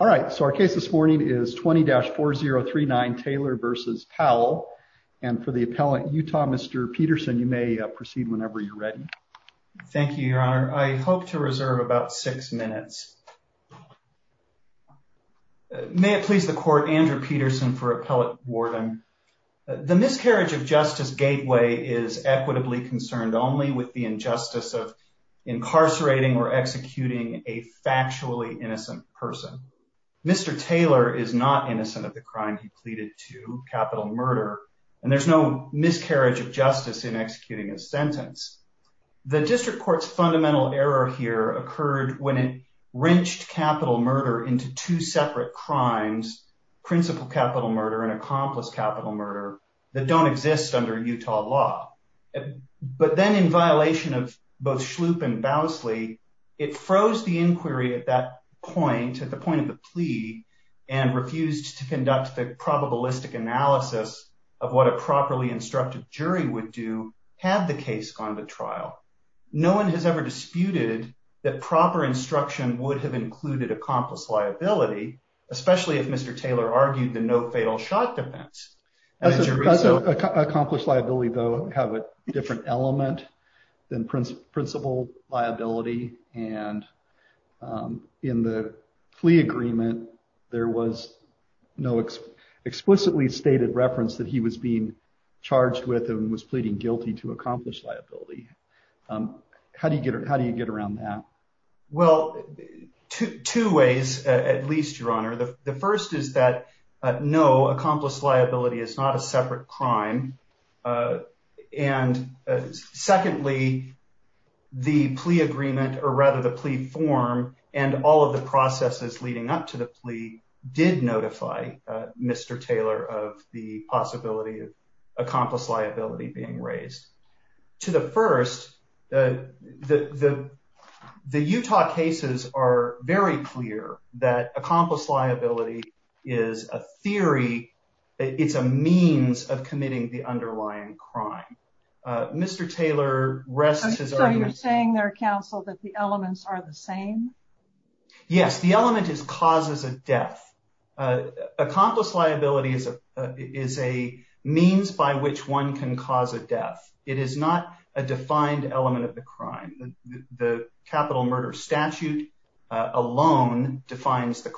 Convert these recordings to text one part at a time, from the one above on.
All right, so our case this morning is 20-4039 Taylor v. Powell, and for the appellant, Utah, Mr. Peterson, you may proceed whenever you're ready. Thank you, Your Honor. I hope to reserve about six minutes. May it please the court, Andrew Peterson for appellate warden. The miscarriage of justice gateway is equitably concerned only with the injustice of incarcerating or executing a factually innocent person. Mr. Taylor is not innocent of the crime he pleaded to, capital murder, and there's no miscarriage of justice in executing his sentence. The district court's fundamental error here occurred when it wrenched capital murder into two separate crimes, principal capital murder and accomplice capital murder, that don't exist under Utah law. But then in violation of both Shloop and Bowsley, it froze the inquiry at that point, at the point of the plea, and refused to conduct the probabilistic analysis of what a properly instructed jury would do had the case gone to trial. No one has ever disputed that proper instruction would have included accomplice liability, especially if Mr. Taylor argued the no fatal shot defense. Accomplice liability, though, have a different element than principal liability. And in the plea agreement, there was no explicitly stated reference that he was being charged with and was pleading guilty to accomplish liability. How do you get around that? Well, two ways, at least, Your Honor. The first is that no, accomplice liability is not a separate crime. And secondly, the plea agreement or rather the plea form and all of the processes leading up to the plea did notify Mr. Taylor of the possibility of accomplice liability being raised. To the first, the Utah cases are very clear that accomplice liability is a theory. It's a means of committing the underlying crime. Mr. Taylor rests his argument. So you're saying there, counsel, that the elements are the same? Yes, the element is causes of death. Accomplice liability is a means by which one can cause a death. It is not a defined element of the crime. The capital murder statute alone defines the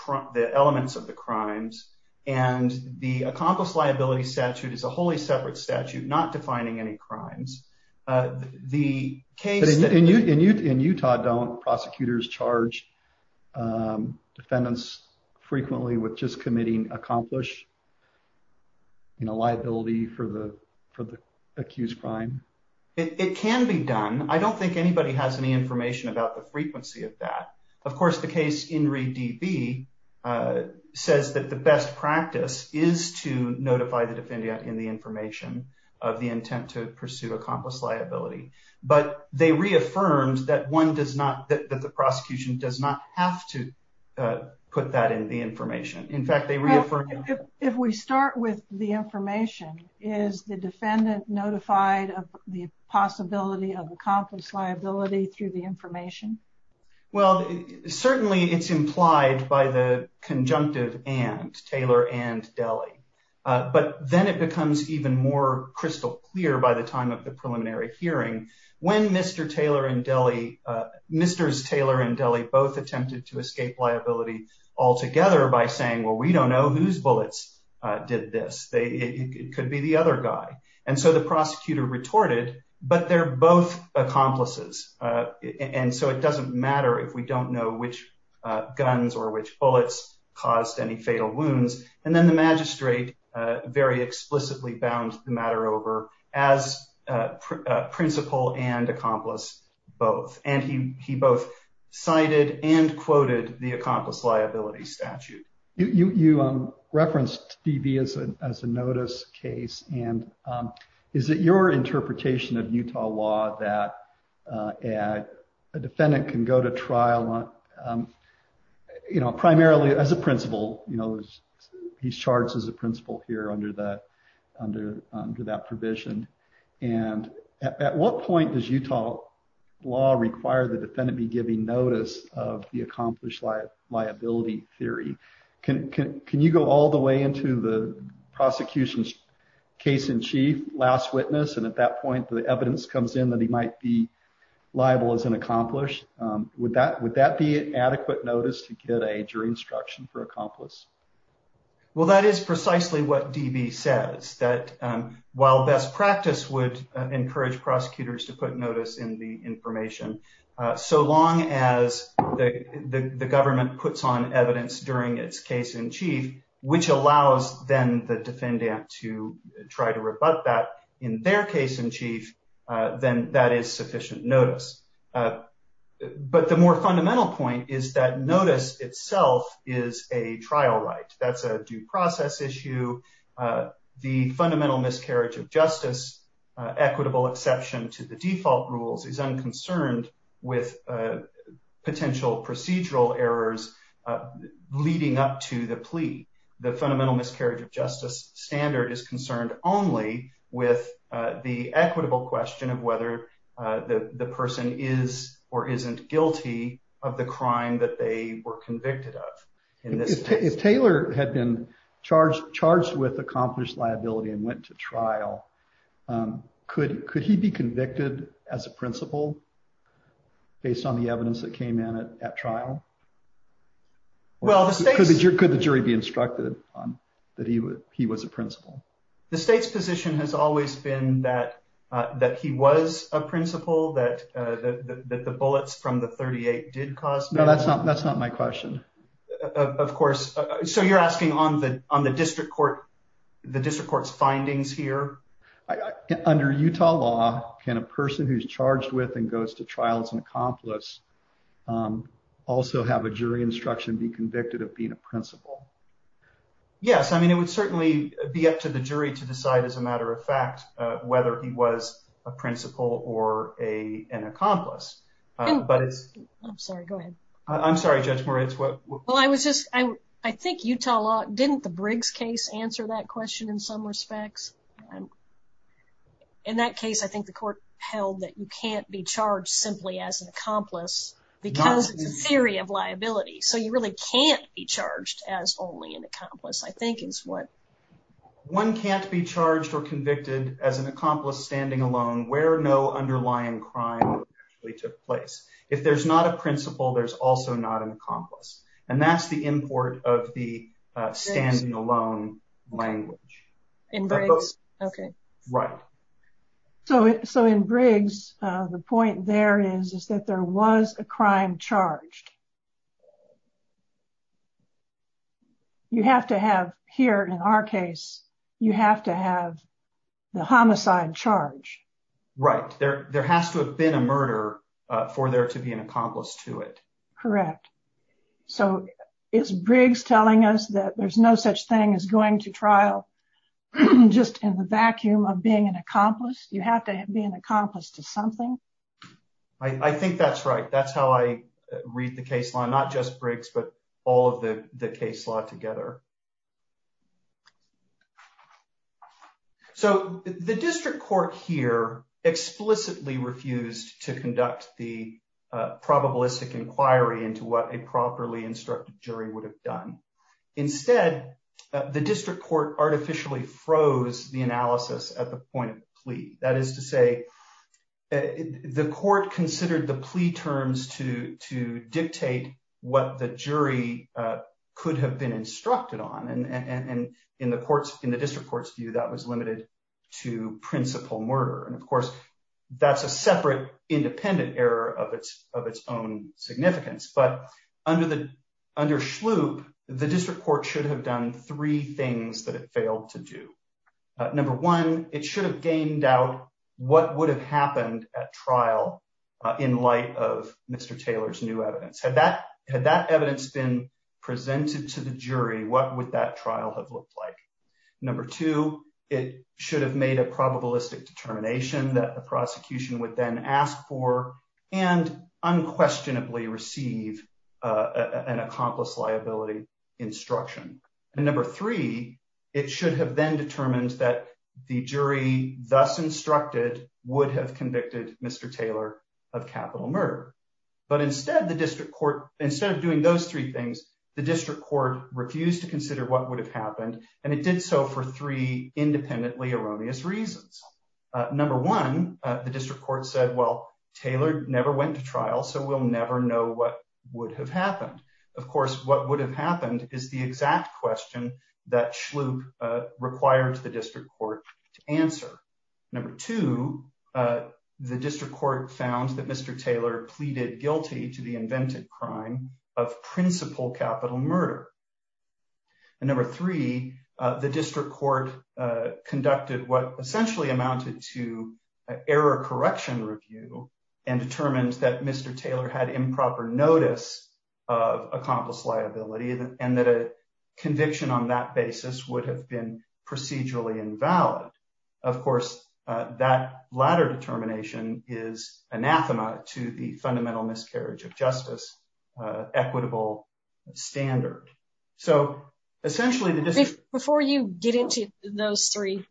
elements of the crimes. And the accomplice liability statute is a wholly separate statute not defining any crimes. But in Utah, don't prosecutors charge defendants frequently with just committing accomplish liability for the accused crime? It can be done. I don't think anybody has any information about the frequency of that. Of course, the case in re DB says that the best practice is to notify the defendant in the information of the intent to pursue accomplice liability. But they reaffirmed that one does not that the prosecution does not have to put that in the information. In fact, they reaffirmed. If we start with the information, is the defendant notified of the possibility of accomplice liability through the information? Well, certainly it's implied by the conjunctive and Taylor and Delhi. But then it becomes even more crystal clear by the time of the preliminary hearing when Mr. Taylor and Delhi, Mr. Taylor and Delhi both attempted to escape liability altogether by saying, well, we don't know whose bullets did this. They could be the other guy. And so the prosecutor retorted, but they're both accomplices. And so it doesn't matter if we don't know which guns or which bullets caused any fatal wounds. And then the magistrate very explicitly bound the matter over as principal and accomplice both. And he he both cited and quoted the accomplice liability statute. You referenced TV as a notice case. And is it your interpretation of Utah law that a defendant can go to trial primarily as a principal? He's charged as a principal here under the under that provision. And at what point does Utah law require the defendant be giving notice of the accomplished liability theory? Can can you go all the way into the prosecution's case in chief? Last witness. And at that point, the evidence comes in that he might be liable as an accomplished. Would that would that be adequate notice to get a jury instruction for accomplice? Well, that is precisely what DB says, that while best practice would encourage prosecutors to put notice in the information, so long as the government puts on evidence during its case in chief, which allows then the defendant to try to rebut that in their case in chief, then that is sufficient notice. But the more fundamental point is that notice itself is a trial right. That's a due process issue. The fundamental miscarriage of justice, equitable exception to the default rules, is unconcerned with potential procedural errors leading up to the plea. The fundamental miscarriage of justice standard is concerned only with the equitable question of whether the person is or isn't guilty of the crime that they were convicted of. If Taylor had been charged, charged with accomplished liability and went to trial. Could could he be convicted as a principal based on the evidence that came in at trial? Well, could the jury be instructed that he would he was a principal? The state's position has always been that that he was a principal, that the bullets from the 38 did cause. No, that's not that's not my question. Of course. So you're asking on the on the district court, the district court's findings here. Under Utah law, can a person who's charged with and goes to trial as an accomplice also have a jury instruction, be convicted of being a principal? Yes. I mean, it would certainly be up to the jury to decide as a matter of fact whether he was a principal or a an accomplice. But it's I'm sorry. Go ahead. I'm sorry, Judge Moritz. Well, I was just I think Utah law didn't the Briggs case answer that question in some respects. In that case, I think the court held that you can't be charged simply as an accomplice because it's a theory of liability. So you really can't be charged as only an accomplice, I think, is what one can't be charged or convicted as an accomplice standing alone where no underlying crime took place. If there's not a principal, there's also not an accomplice. And that's the import of the standing alone language. In Briggs. OK, right. So. So in Briggs, the point there is, is that there was a crime charged. You have to have here in our case, you have to have the homicide charge. Right there. There has to have been a murder for there to be an accomplice to it. Correct. So it's Briggs telling us that there's no such thing as going to trial just in the vacuum of being an accomplice. You have to be an accomplice to something. I think that's right. That's how I read the case law, not just Briggs, but all of the case law together. So the district court here explicitly refused to conduct the probabilistic inquiry into what a properly instructed jury would have done. Instead, the district court artificially froze the analysis at the point of plea. That is to say, the court considered the plea terms to to dictate what the jury could have been instructed on. And in the courts, in the district court's view, that was limited to principal murder. And, of course, that's a separate independent error of its of its own significance. But under the under sloop, the district court should have done three things that it failed to do. Number one, it should have gained out what would have happened at trial in light of Mr. Taylor's new evidence. Had that had that evidence been presented to the jury, what would that trial have looked like? Number two, it should have made a probabilistic determination that the prosecution would then ask for and unquestionably receive an accomplice liability instruction. And number three, it should have then determined that the jury thus instructed would have convicted Mr. Taylor of capital murder. But instead, the district court, instead of doing those three things, the district court refused to consider what would have happened. And it did so for three independently erroneous reasons. Number one, the district court said, well, Taylor never went to trial, so we'll never know what would have happened. Of course, what would have happened is the exact question that sloop required the district court to answer. Number two, the district court found that Mr. Taylor pleaded guilty to the invented crime of principal capital murder. And number three, the district court conducted what essentially amounted to error correction review and determined that Mr. Taylor had improper notice of accomplice liability and that a conviction on that basis would have been procedurally invalid. Of course, that latter determination is anathema to the fundamental miscarriage of justice equitable standard. So essentially, before you get into those three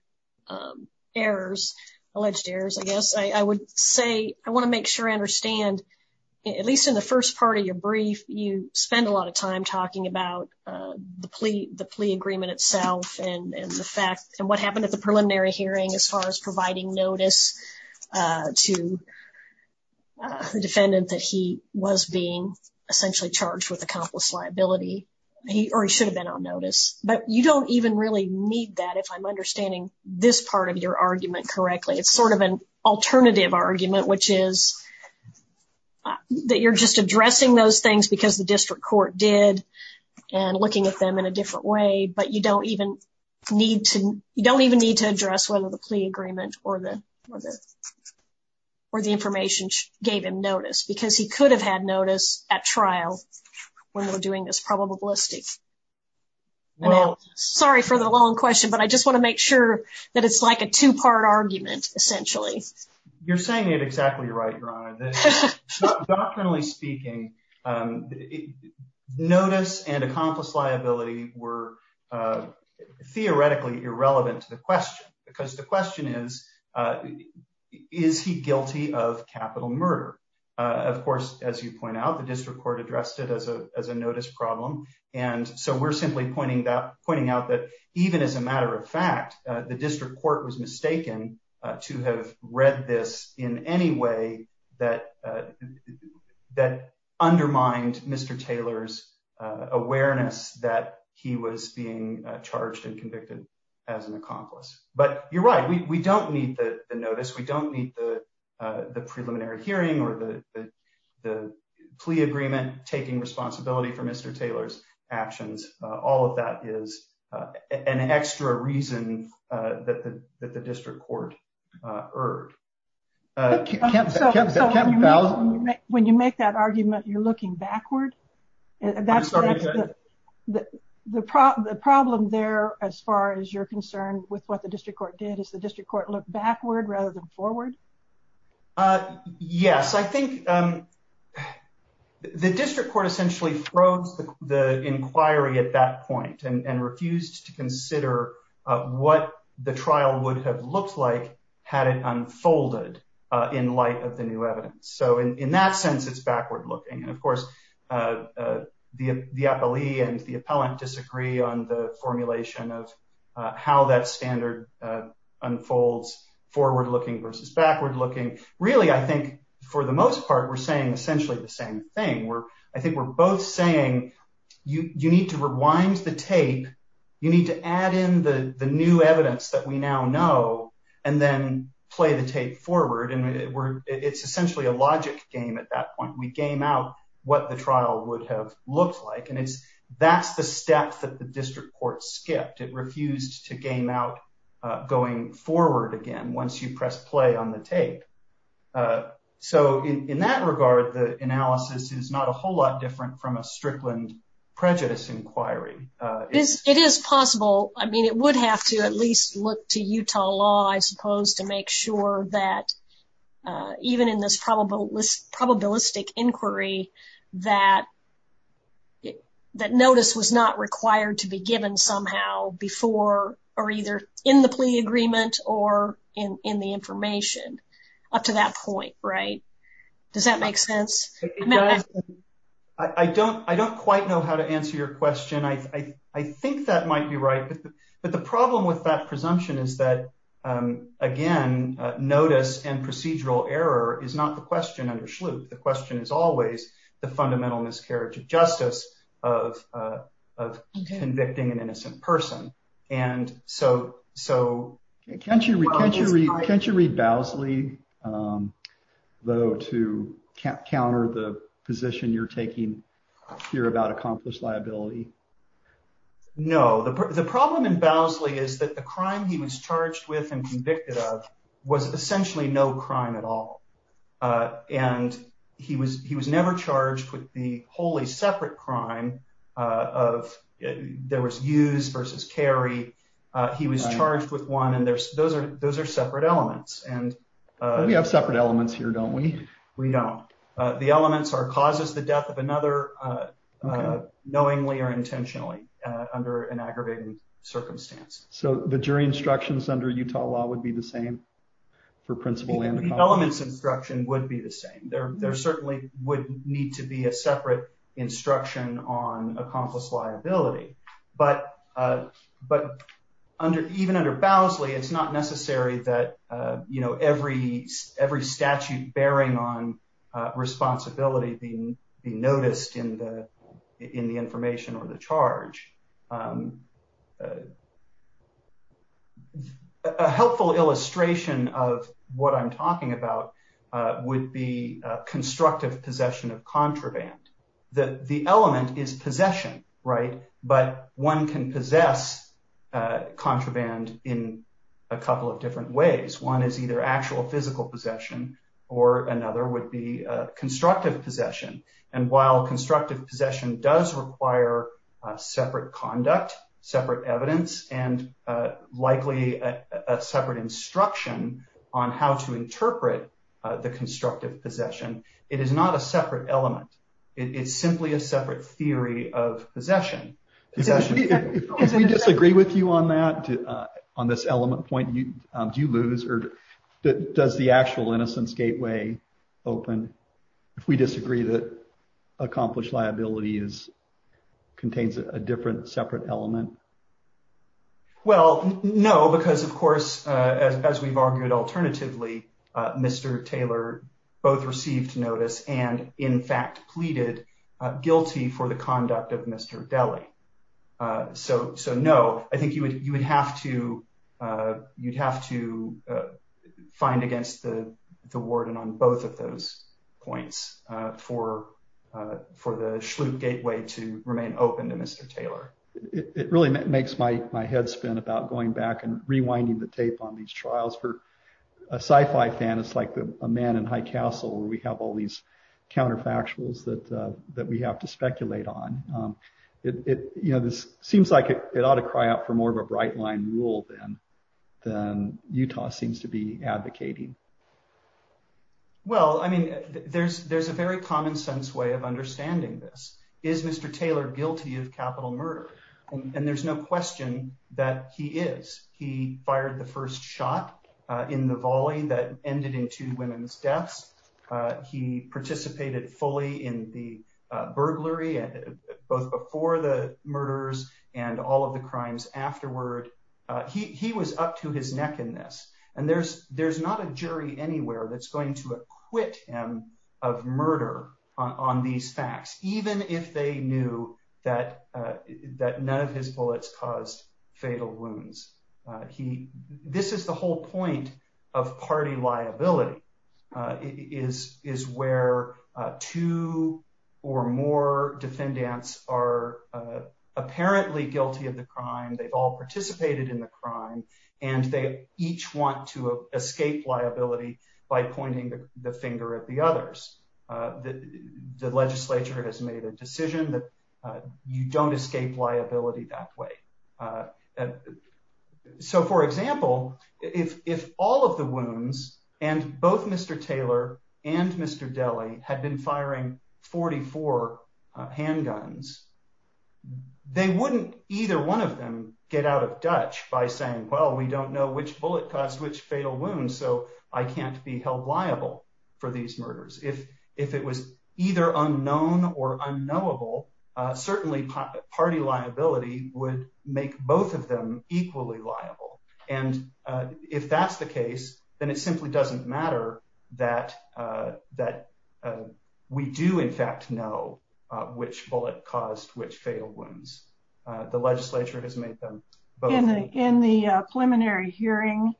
errors, alleged errors, I guess I would say I want to make sure I understand, at least in the first part of your brief, you spend a lot of time talking about the plea, the plea agreement itself and the fact and what happened at the preliminary hearing as far as providing notice to the defendant that he was being essentially charged with accomplice liability or he should have been on notice. But you don't even really need that if I'm understanding this part of your argument correctly. It's sort of an alternative argument, which is that you're just addressing those things because the district court did and looking at them in a different way. But you don't even need to you don't even need to address whether the plea agreement or the or the information gave him notice because he could have had notice at trial when they were doing this probabilistic. Well, sorry for the long question, but I just want to make sure that it's like a two part argument. Essentially, you're saying it exactly right. Doctrinally speaking, notice and accomplice liability were theoretically irrelevant to the question because the question is, is he guilty of capital murder? Of course, as you point out, the district court addressed it as a as a notice problem. And so we're simply pointing that pointing out that even as a matter of fact, the district court was mistaken to have read this in any way that that undermined Mr. Taylor's awareness that he was being charged and convicted as an accomplice. But you're right. We don't need the notice. We don't need the the preliminary hearing or the the plea agreement taking responsibility for Mr. Taylor's actions. All of that is an extra reason that the district court. So when you make that argument, you're looking backward. That's the problem. The problem there, as far as you're concerned with what the district court did is the district court look backward rather than forward. Yes, I think the district court essentially froze the inquiry at that point and refused to consider what the trial would have looked like had it unfolded in light of the new evidence. So in that sense, it's backward looking. And of course, the appellee and the appellant disagree on the formulation of how that standard unfolds. Forward looking versus backward looking. Really, I think for the most part, we're saying essentially the same thing where I think we're both saying you need to rewind the tape. You need to add in the new evidence that we now know and then play the tape forward. And it's essentially a logic game at that point. We game out what the trial would have looked like. And it's that's the step that the district court skipped. It refused to game out going forward again. Once you press play on the tape. So in that regard, the analysis is not a whole lot different from a Strickland prejudice inquiry. It is possible. I mean, it would have to at least look to Utah law, I suppose, to make sure that even in this probabilistic inquiry that notice was not required to be given somehow before or either in the plea agreement or in the information up to that point. Right. Does that make sense? I don't I don't quite know how to answer your question. I think that might be right. But the problem with that presumption is that, again, notice and procedural error is not the question. The question is always the fundamental miscarriage of justice of of convicting an innocent person. And so. So can't you can't you can't you read Bowsley, though, to counter the position you're taking here about accomplished liability? No, the problem in Bowsley is that the crime he was charged with and convicted of was essentially no crime at all. And he was he was never charged with the wholly separate crime of there was used versus Kerry. He was charged with one. And there's those are those are separate elements. And we have separate elements here, don't we? We don't. The elements are causes the death of another knowingly or intentionally under an aggravated circumstance. So the jury instructions under Utah law would be the same for principle and the elements instruction would be the same. There certainly would need to be a separate instruction on accomplished liability. But but under even under Bowsley, it's not necessary that, you know, every every statute bearing on responsibility being noticed in the in the information or the charge. A helpful illustration of what I'm talking about would be constructive possession of contraband that the element is possession. Right. But one can possess contraband in a couple of different ways. One is either actual physical possession or another would be constructive possession. And while constructive possession does require separate conduct, separate evidence and likely separate instruction on how to interpret the constructive possession. It is not a separate element. It's simply a separate theory of possession. We disagree with you on that, on this element point. Do you lose or does the actual innocence gateway open if we disagree that accomplished liability is contains a different separate element? Well, no, because, of course, as we've argued, alternatively, Mr. Taylor both received notice and in fact pleaded guilty for the conduct of Mr. Deli. So. So, no, I think you would you would have to you'd have to find against the warden on both of those points for for the Shlute gateway to remain open to Mr. Taylor. It really makes my head spin about going back and rewinding the tape on these trials for a sci fi fan. It's like a man in High Castle where we have all these counterfactuals that that we have to speculate on it. You know, this seems like it ought to cry out for more of a bright line rule than than Utah seems to be advocating. Well, I mean, there's there's a very common sense way of understanding this is Mr. Taylor guilty of capital murder. And there's no question that he is. He fired the first shot in the volley that ended in two women's deaths. He participated fully in the burglary, both before the murders and all of the crimes afterward. He was up to his neck in this. And there's there's not a jury anywhere that's going to acquit him of murder on these facts, even if they knew that that none of his bullets caused fatal wounds. This is the whole point of party liability is is where two or more defendants are apparently guilty of the crime. They've all participated in the crime and they each want to escape liability by pointing the finger at the others. The legislature has made a decision that you don't escape liability that way. So, for example, if if all of the wounds and both Mr. Taylor and Mr. had been firing 44 handguns, they wouldn't either one of them get out of Dutch by saying, well, we don't know which bullet caused which fatal wounds. So I can't be held liable for these murders. If if it was either unknown or unknowable, certainly party liability would make both of them equally liable. And if that's the case, then it simply doesn't matter that that we do, in fact, know which bullet caused which fatal wounds. The legislature has made them in the preliminary hearing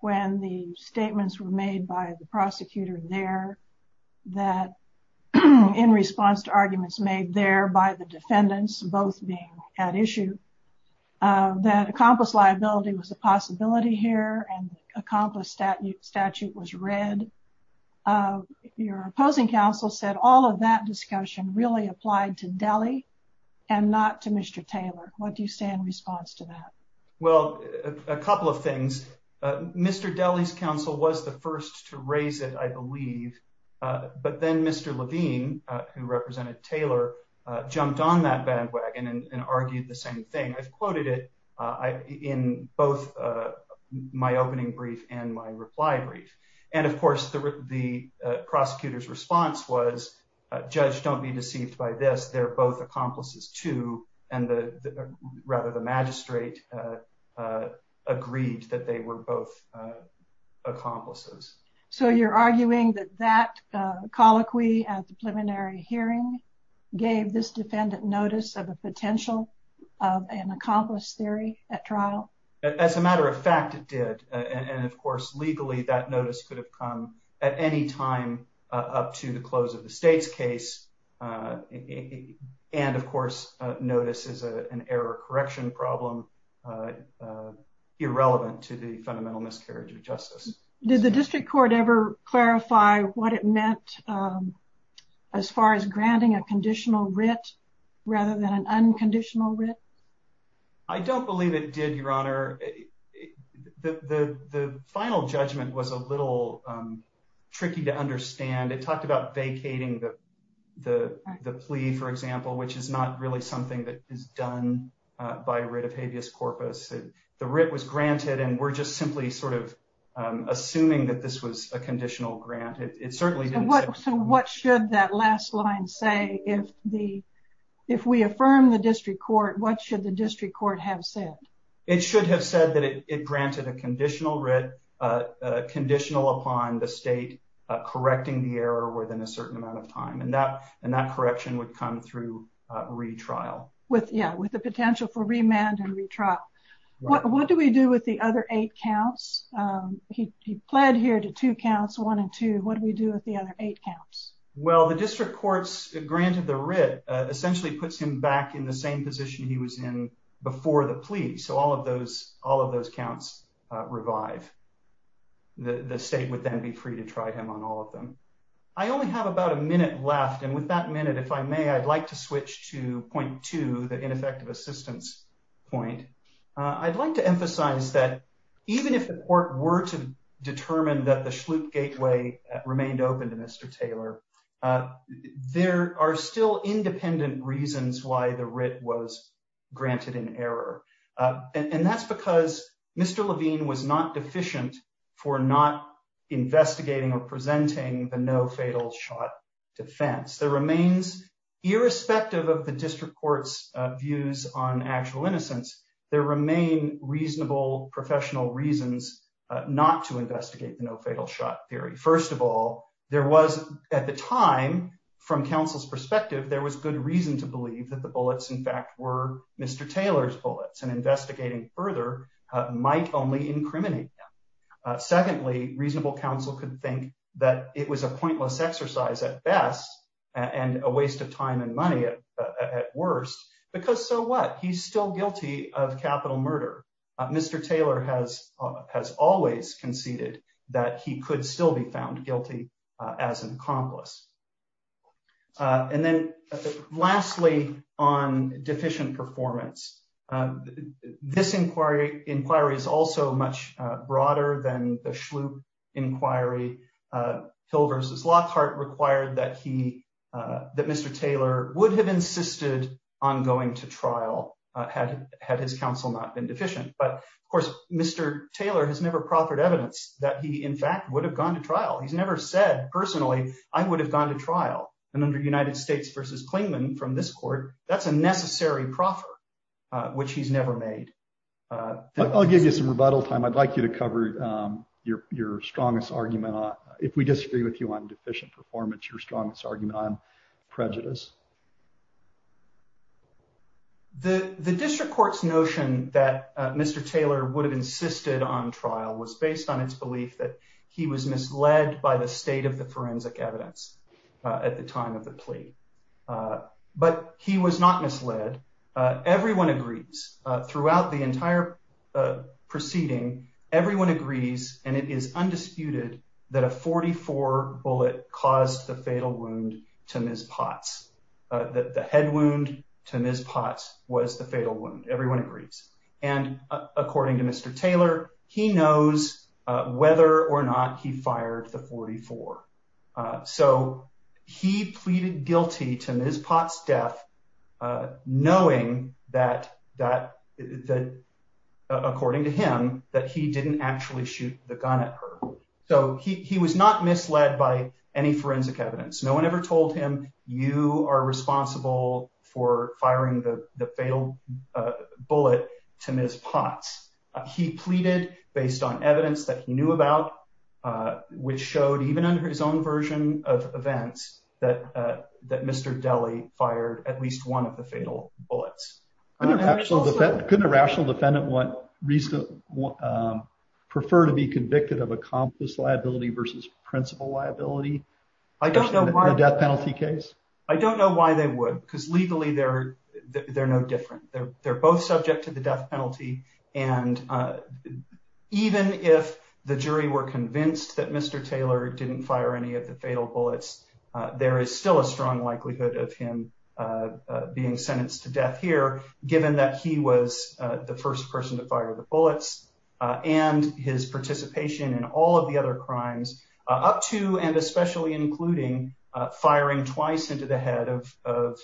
when the statements were made by the prosecutor there that in response to arguments made there by the defendants, both being at issue that accomplice liability was a possibility here and accomplished that statute was read. Your opposing counsel said all of that discussion really applied to Delhi and not to Mr. Taylor. What do you say in response to that? Well, a couple of things. Mr. Daly's counsel was the first to raise it, I believe. But then Mr. Levine, who represented Taylor, jumped on that bandwagon and argued the same thing. I've quoted it in both my opening brief and my reply brief. And of course, the the prosecutor's response was, judge, don't be deceived by this. They're both accomplices, too. And the rather the magistrate agreed that they were both accomplices. So you're arguing that that colloquy at the preliminary hearing gave this defendant notice of a potential of an accomplice theory at trial? As a matter of fact, it did. And of course, legally, that notice could have come at any time up to the close of the state's case. And of course, notice is an error correction problem irrelevant to the fundamental miscarriage of justice. Did the district court ever clarify what it meant as far as granting a conditional writ rather than an unconditional writ? I don't believe it did, Your Honor. The final judgment was a little tricky to understand. It talked about vacating the plea, for example, which is not really something that is done by writ of habeas corpus. The writ was granted and we're just simply sort of assuming that this was a conditional grant. So what should that last line say? If we affirm the district court, what should the district court have said? It should have said that it granted a conditional writ, conditional upon the state correcting the error within a certain amount of time. And that correction would come through retrial. Yeah, with the potential for remand and retrial. What do we do with the other eight counts? He pled here to two counts, one and two. What do we do with the other eight counts? Well, the district courts granted the writ essentially puts him back in the same position he was in before the plea. So all of those all of those counts revive. The state would then be free to try him on all of them. I only have about a minute left. And with that minute, if I may, I'd like to switch to point to the ineffective assistance point. I'd like to emphasize that even if the court were to determine that the schlute gateway remained open to Mr. Taylor, there are still independent reasons why the writ was granted in error. And that's because Mr. Levine was not deficient for not investigating or presenting the no fatal shot defense. There remains irrespective of the district court's views on actual innocence. There remain reasonable professional reasons not to investigate the no fatal shot theory. First of all, there was at the time from counsel's perspective, there was good reason to believe that the bullets, in fact, were Mr. Taylor's bullets. And investigating further might only incriminate. Secondly, reasonable counsel could think that it was a pointless exercise at best and a waste of time and money at worst. Because so what? He's still guilty of capital murder. Mr. Taylor has has always conceded that he could still be found guilty as an accomplice. And then lastly, on deficient performance, this inquiry inquiry is also much broader than the schlute inquiry. Hill versus Lockhart required that he that Mr. Taylor would have insisted on going to trial had had his counsel not been deficient. But, of course, Mr. Taylor has never proffered evidence that he, in fact, would have gone to trial. He's never said personally I would have gone to trial. And under United States versus Clingman from this court, that's a necessary proffer, which he's never made. I'll give you some rebuttal time. I'd like you to cover your your strongest argument. If we disagree with you on deficient performance, your strongest argument on prejudice. The district court's notion that Mr. Taylor would have insisted on trial was based on its belief that he was misled by the state of the forensic evidence at the time of the plea. But he was not misled. Everyone agrees throughout the entire proceeding. Everyone agrees. And it is undisputed that a 44 bullet caused the fatal wound to Ms. Potts. The head wound to Ms. Potts was the fatal wound. Everyone agrees. And according to Mr. Taylor, he knows whether or not he fired the 44. So he pleaded guilty to Ms. Potts death, knowing that that that according to him, that he didn't actually shoot the gun at her. So he was not misled by any forensic evidence. No one ever told him you are responsible for firing the fatal bullet to Ms. Potts. He pleaded based on evidence that he knew about, which showed even under his own version of events that that Mr. Deli fired at least one of the fatal bullets. Couldn't a rational defendant want reason to prefer to be convicted of a compass liability versus principal liability? I don't know. Death penalty case. I don't know why they would, because legally they're they're no different. They're both subject to the death penalty. And even if the jury were convinced that Mr. Taylor didn't fire any of the fatal bullets, there is still a strong likelihood of him being sentenced to death here, given that he was the first person to fire the bullets and his participation in all of the other crimes up to and especially including firing twice into the head of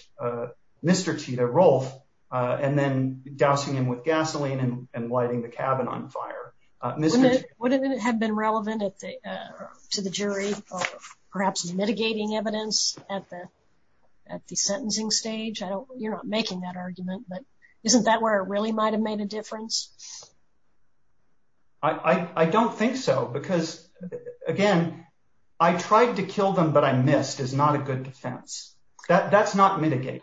Mr. Tito Rolf and then dousing him with gasoline and lighting the cabin on fire. Wouldn't it have been relevant to the jury, perhaps mitigating evidence at the at the sentencing stage? I know you're not making that argument, but isn't that where it really might have made a difference? I don't think so, because, again, I tried to kill them, but I missed is not a good defense. That's not mitigate.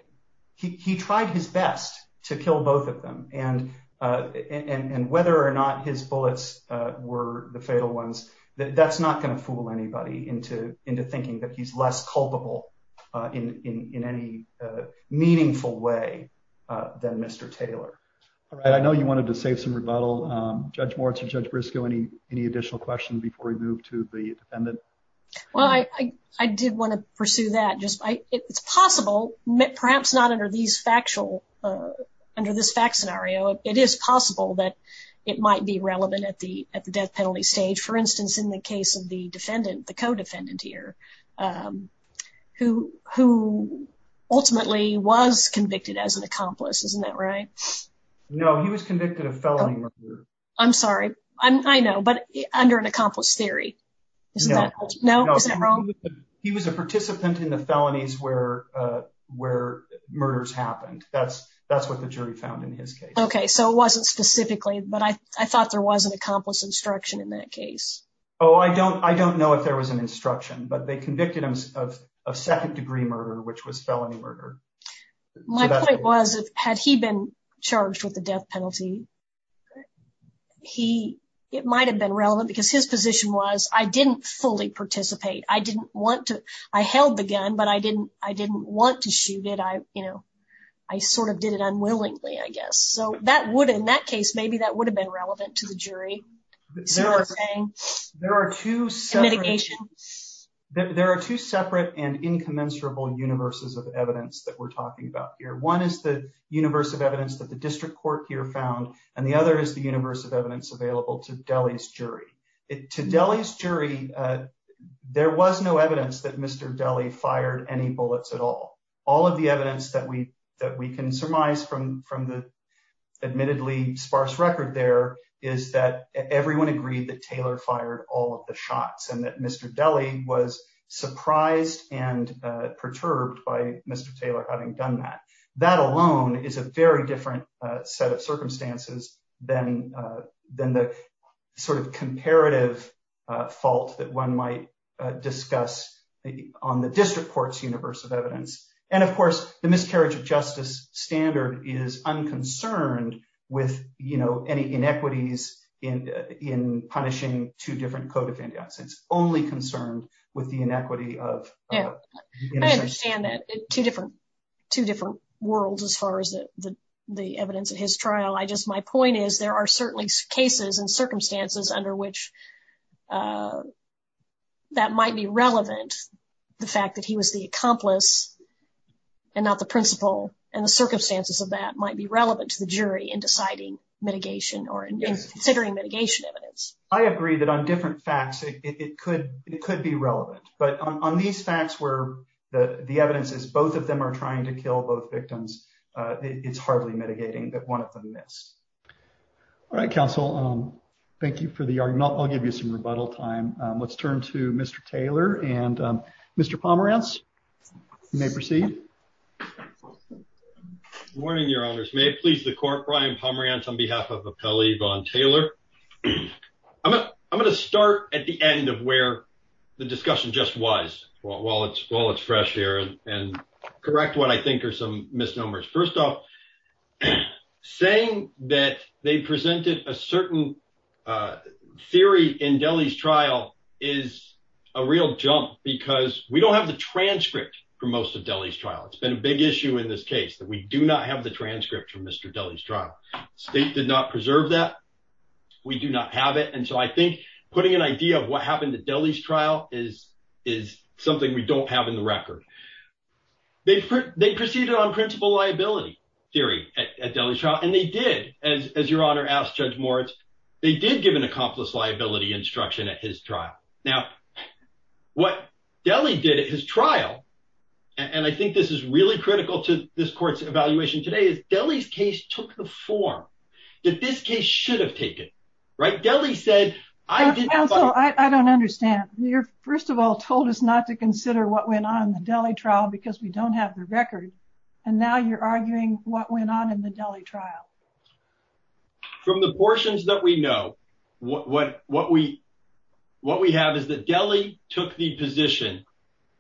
He tried his best to kill both of them. And and whether or not his bullets were the fatal ones, that's not going to fool anybody into into thinking that he's less culpable in any meaningful way than Mr. Taylor. All right. I know you wanted to save some rebuttal, Judge Moritz and Judge Briscoe. Any any additional questions before we move to the defendant? Well, I did want to pursue that just by it's possible, perhaps not under these factual under this fact scenario. It is possible that it might be relevant at the at the death penalty stage, for instance, in the case of the defendant, the co-defendant here, who who ultimately was convicted as an accomplice, isn't that right? No, he was convicted of felony murder. I'm sorry. I know. But under an accomplice theory, no, no, no. He was a participant in the felonies where where murders happened. That's that's what the jury found in his case. OK, so it wasn't specifically. But I thought there was an accomplice instruction in that case. Oh, I don't I don't know if there was an instruction, but they convicted him of a second degree murder, which was felony murder. My point was, had he been charged with the death penalty? He it might have been relevant because his position was I didn't fully participate. I didn't want to. I held the gun, but I didn't I didn't want to shoot it. I you know, I sort of did it unwillingly, I guess. So that would in that case, maybe that would have been relevant to the jury. There are two. There are two separate and incommensurable universes of evidence that we're talking about here. One is the universe of evidence that the district court here found. And the other is the universe of evidence available to Delhi's jury to Delhi's jury. There was no evidence that Mr. Delhi fired any bullets at all. All of the evidence that we that we can surmise from from the admittedly sparse record there is that everyone agreed that Taylor fired all of the shots and that Mr. Delhi was surprised and perturbed by Mr. Taylor having done that. That alone is a very different set of circumstances than than the sort of comparative fault that one might discuss on the district court's universe of evidence. And, of course, the miscarriage of justice standard is unconcerned with, you know, any inequities in in punishing two different code of conduct. It's only concerned with the inequity of. Yeah, I understand that two different two different worlds as far as the the evidence of his trial. I just my point is there are certainly cases and circumstances under which that might be relevant. The fact that he was the accomplice and not the principal and the circumstances of that might be relevant to the jury in deciding mitigation or considering mitigation evidence. I agree that on different facts, it could it could be relevant. But on these facts where the evidence is, both of them are trying to kill both victims. It's hardly mitigating that one of them missed. All right, counsel. Thank you for the argument. I'll give you some rebuttal time. Let's turn to Mr. Taylor and Mr. Pomerance may proceed. Morning, your honors. May it please the court. Brian Pomerance on behalf of a Pele von Taylor. I'm going to start at the end of where the discussion just was while it's while it's fresh air and correct what I think are some misnomers. First off, saying that they presented a certain theory in Delhi's trial is a real jump because we don't have the transcript for most of Delhi's trial. It's been a big issue in this case that we do not have the transcript from Mr. Delhi's trial. State did not preserve that. We do not have it. And so I think putting an idea of what happened to Delhi's trial is is something we don't have in the record. They they proceeded on principle liability theory at Delhi shot and they did. As your honor asked Judge Moritz, they did give an accomplice liability instruction at his trial. Now, what Delhi did at his trial. And I think this is really critical to this court's evaluation today is Delhi's case took the form that this case should have taken. Right. Delhi said I did. I don't understand. You're first of all told us not to consider what went on in Delhi trial because we don't have the record. And now you're arguing what went on in the Delhi trial. From the portions that we know what what what we what we have is that Delhi took the position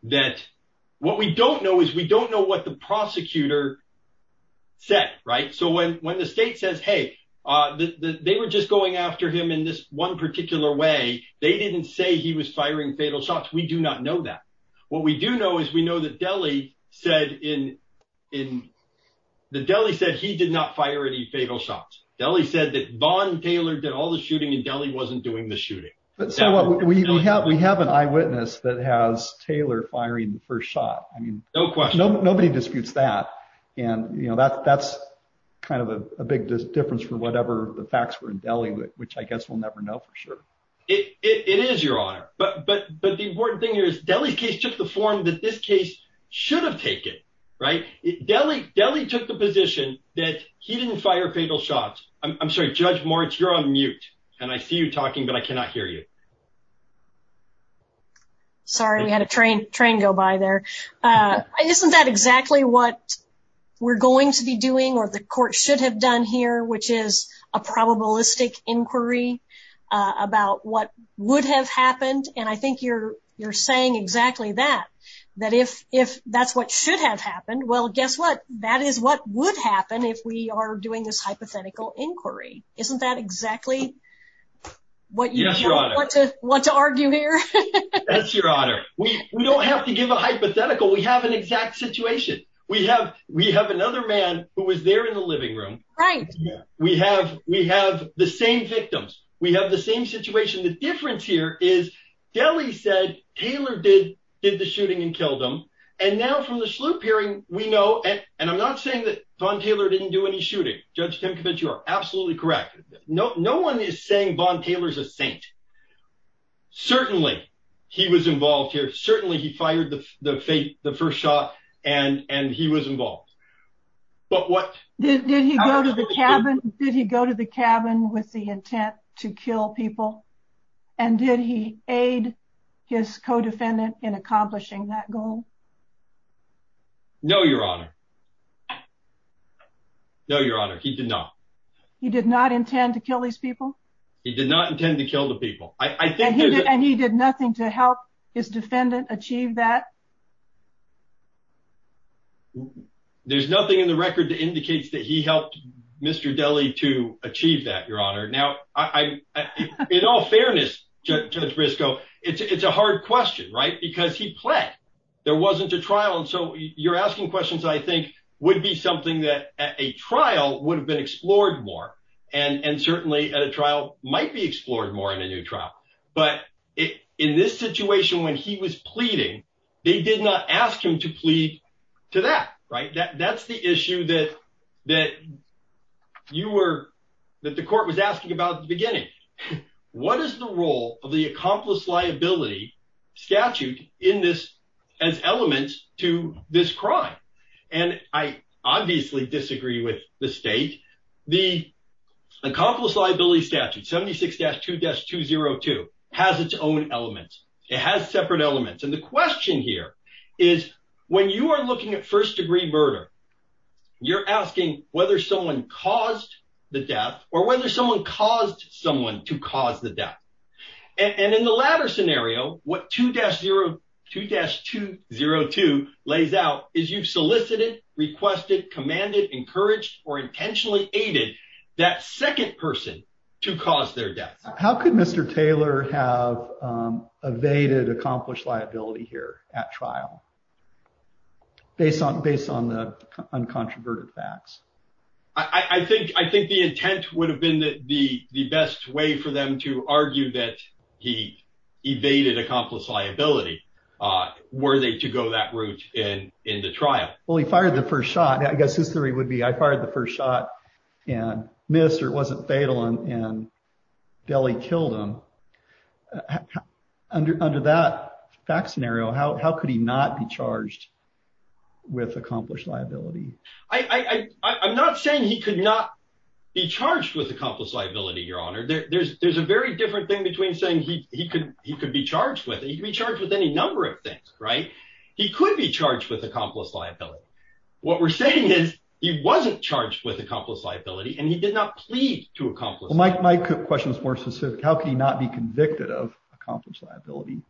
that what we don't know is we don't know what the prosecutor said. Right. So when when the state says, hey, they were just going after him in this one particular way, they didn't say he was firing fatal shots. We do not know that. What we do know is we know that Delhi said in in the Delhi said he did not fire any fatal shots. Delhi said that Vaughn Taylor did all the shooting in Delhi wasn't doing the shooting. But so what we have we have an eyewitness that has Taylor firing the first shot. I mean, no question. Nobody disputes that. And, you know, that's kind of a big difference for whatever the facts were in Delhi, which I guess we'll never know for sure. It is your honor. But but but the important thing is Delhi case took the form that this case should have taken. Right. Delhi Delhi took the position that he didn't fire fatal shots. I'm sorry, Judge Moritz, you're on mute and I see you talking, but I cannot hear you. Sorry, we had a train train go by there. Isn't that exactly what we're going to be doing or the court should have done here, which is a probabilistic inquiry about what would have happened? And I think you're you're saying exactly that, that if if that's what should have happened. Well, guess what? That is what would happen if we are doing this hypothetical inquiry. Isn't that exactly what you want to want to argue here? That's your honor. We don't have to give a hypothetical. We have an exact situation. We have we have another man who was there in the living room. Right. We have we have the same victims. We have the same situation. The difference here is Delhi said Taylor did did the shooting and killed him. And now from the sloop hearing, we know. And I'm not saying that Von Taylor didn't do any shooting. Judge Tim, you are absolutely correct. No, no one is saying Von Taylor's a saint. Certainly he was involved here. Certainly he fired the faith, the first shot. And and he was involved. But what did he go to the cabin? Did he go to the cabin with the intent to kill people? And did he aid his co-defendant in accomplishing that goal? No, your honor. No, your honor, he did not. He did not intend to kill these people. He did not intend to kill the people. I think he did. And he did nothing to help his defendant achieve that. There's nothing in the record that indicates that he helped Mr. Daly to achieve that, your honor. Now, I in all fairness, Judge Briscoe, it's a hard question. Right. Because he pled there wasn't a trial. And so you're asking questions, I think, would be something that a trial would have been explored more. And certainly at a trial might be explored more in a new trial. But in this situation, when he was pleading, they did not ask him to plead to that. Right. That's the issue that that you were that the court was asking about the beginning. What is the role of the accomplice liability statute in this as elements to this crime? And I obviously disagree with the state. The accomplice liability statute, 76 dash two dash two zero two has its own elements. It has separate elements. And the question here is when you are looking at first degree murder, you're asking whether someone caused the death or whether someone caused someone to cause the death. And in the latter scenario, what two dash zero two dash two zero two lays out is you've solicited, requested, commanded, encouraged or intentionally aided that second person to cause their death. How could Mr. Taylor have evaded accomplished liability here at trial based on based on the uncontroverted facts? I think I think the intent would have been the best way for them to argue that he evaded accomplished liability. Were they to go that route in in the trial? Well, he fired the first shot. I guess his theory would be I fired the first shot and missed or wasn't fatal. And Billy killed him under under that fact scenario. How could he not be charged with accomplished liability? I I'm not saying he could not be charged with accomplished liability, Your Honor. There's there's a very different thing between saying he could he could be charged with. He could be charged with any number of things. Right. He could be charged with accomplished liability. What we're saying is he wasn't charged with accomplished liability and he did not plead to accomplish. Mike, my question is more specific. How can you not be convicted of accomplished liability?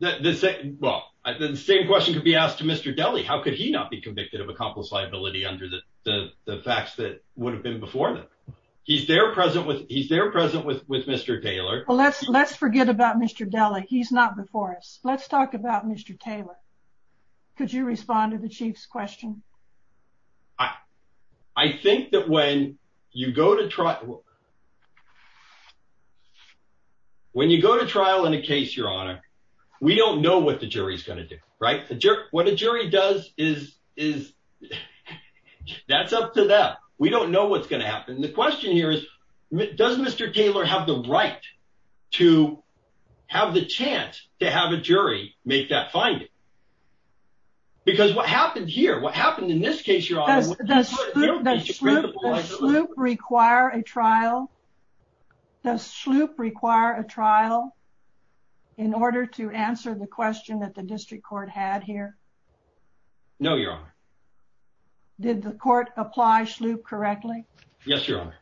The same question could be asked to Mr. Daly. How could he not be convicted of accomplished liability under the facts that would have been before them? He's there present with he's there present with with Mr. Taylor. Let's let's forget about Mr. Daly. He's not before us. Let's talk about Mr. Taylor. Could you respond to the chief's question? I think that when you go to trial. When you go to trial in a case, Your Honor, we don't know what the jury is going to do. Right. What a jury does is is that's up to them. We don't know what's going to happen. The question here is, does Mr. Taylor have the right to have the chance to have a jury make that finding? Because what happened here, what happened in this case, Your Honor? Does SLOOP require a trial? Does SLOOP require a trial in order to answer the question that the district court had here? No, Your Honor. Did the court apply SLOOP correctly? Yes, Your Honor.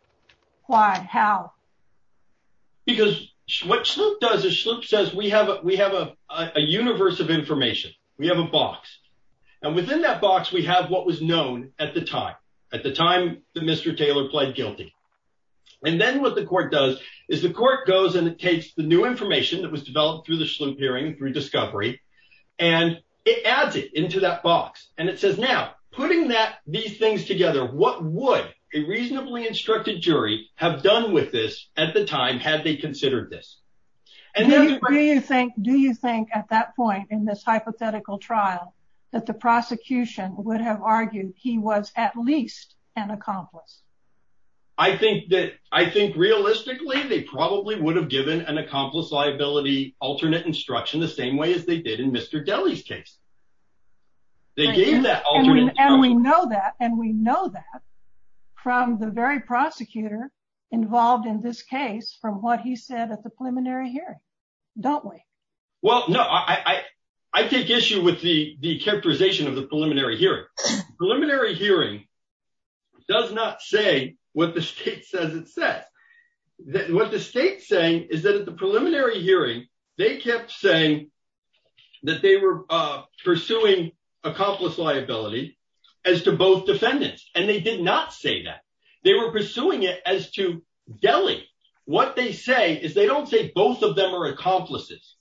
Why? How? Because what SLOOP does is SLOOP says we have we have a universe of information. We have a box. And within that box, we have what was known at the time at the time that Mr. Taylor pled guilty. And then what the court does is the court goes and it takes the new information that was developed through the SLOOP hearing through discovery. And it adds it into that box. And it says, now, putting that these things together, what would a reasonably instructed jury have done with this at the time had they considered this? Do you think do you think at that point in this hypothetical trial that the prosecution would have argued he was at least an accomplice? I think that I think realistically, they probably would have given an accomplice liability alternate instruction the same way as they did in Mr. Deli's case. They gave that alternate instruction. And we know that and we know that from the very prosecutor involved in this case from what he said at the preliminary hearing, don't we? Well, no, I I take issue with the characterization of the preliminary hearing preliminary hearing does not say what the state says it says that what the state saying is that at the preliminary hearing, they kept saying that they were pursuing accomplice liability as to both defendants. And they did not say that they were pursuing it as to Delhi. What they say is they don't say both of them are accomplices.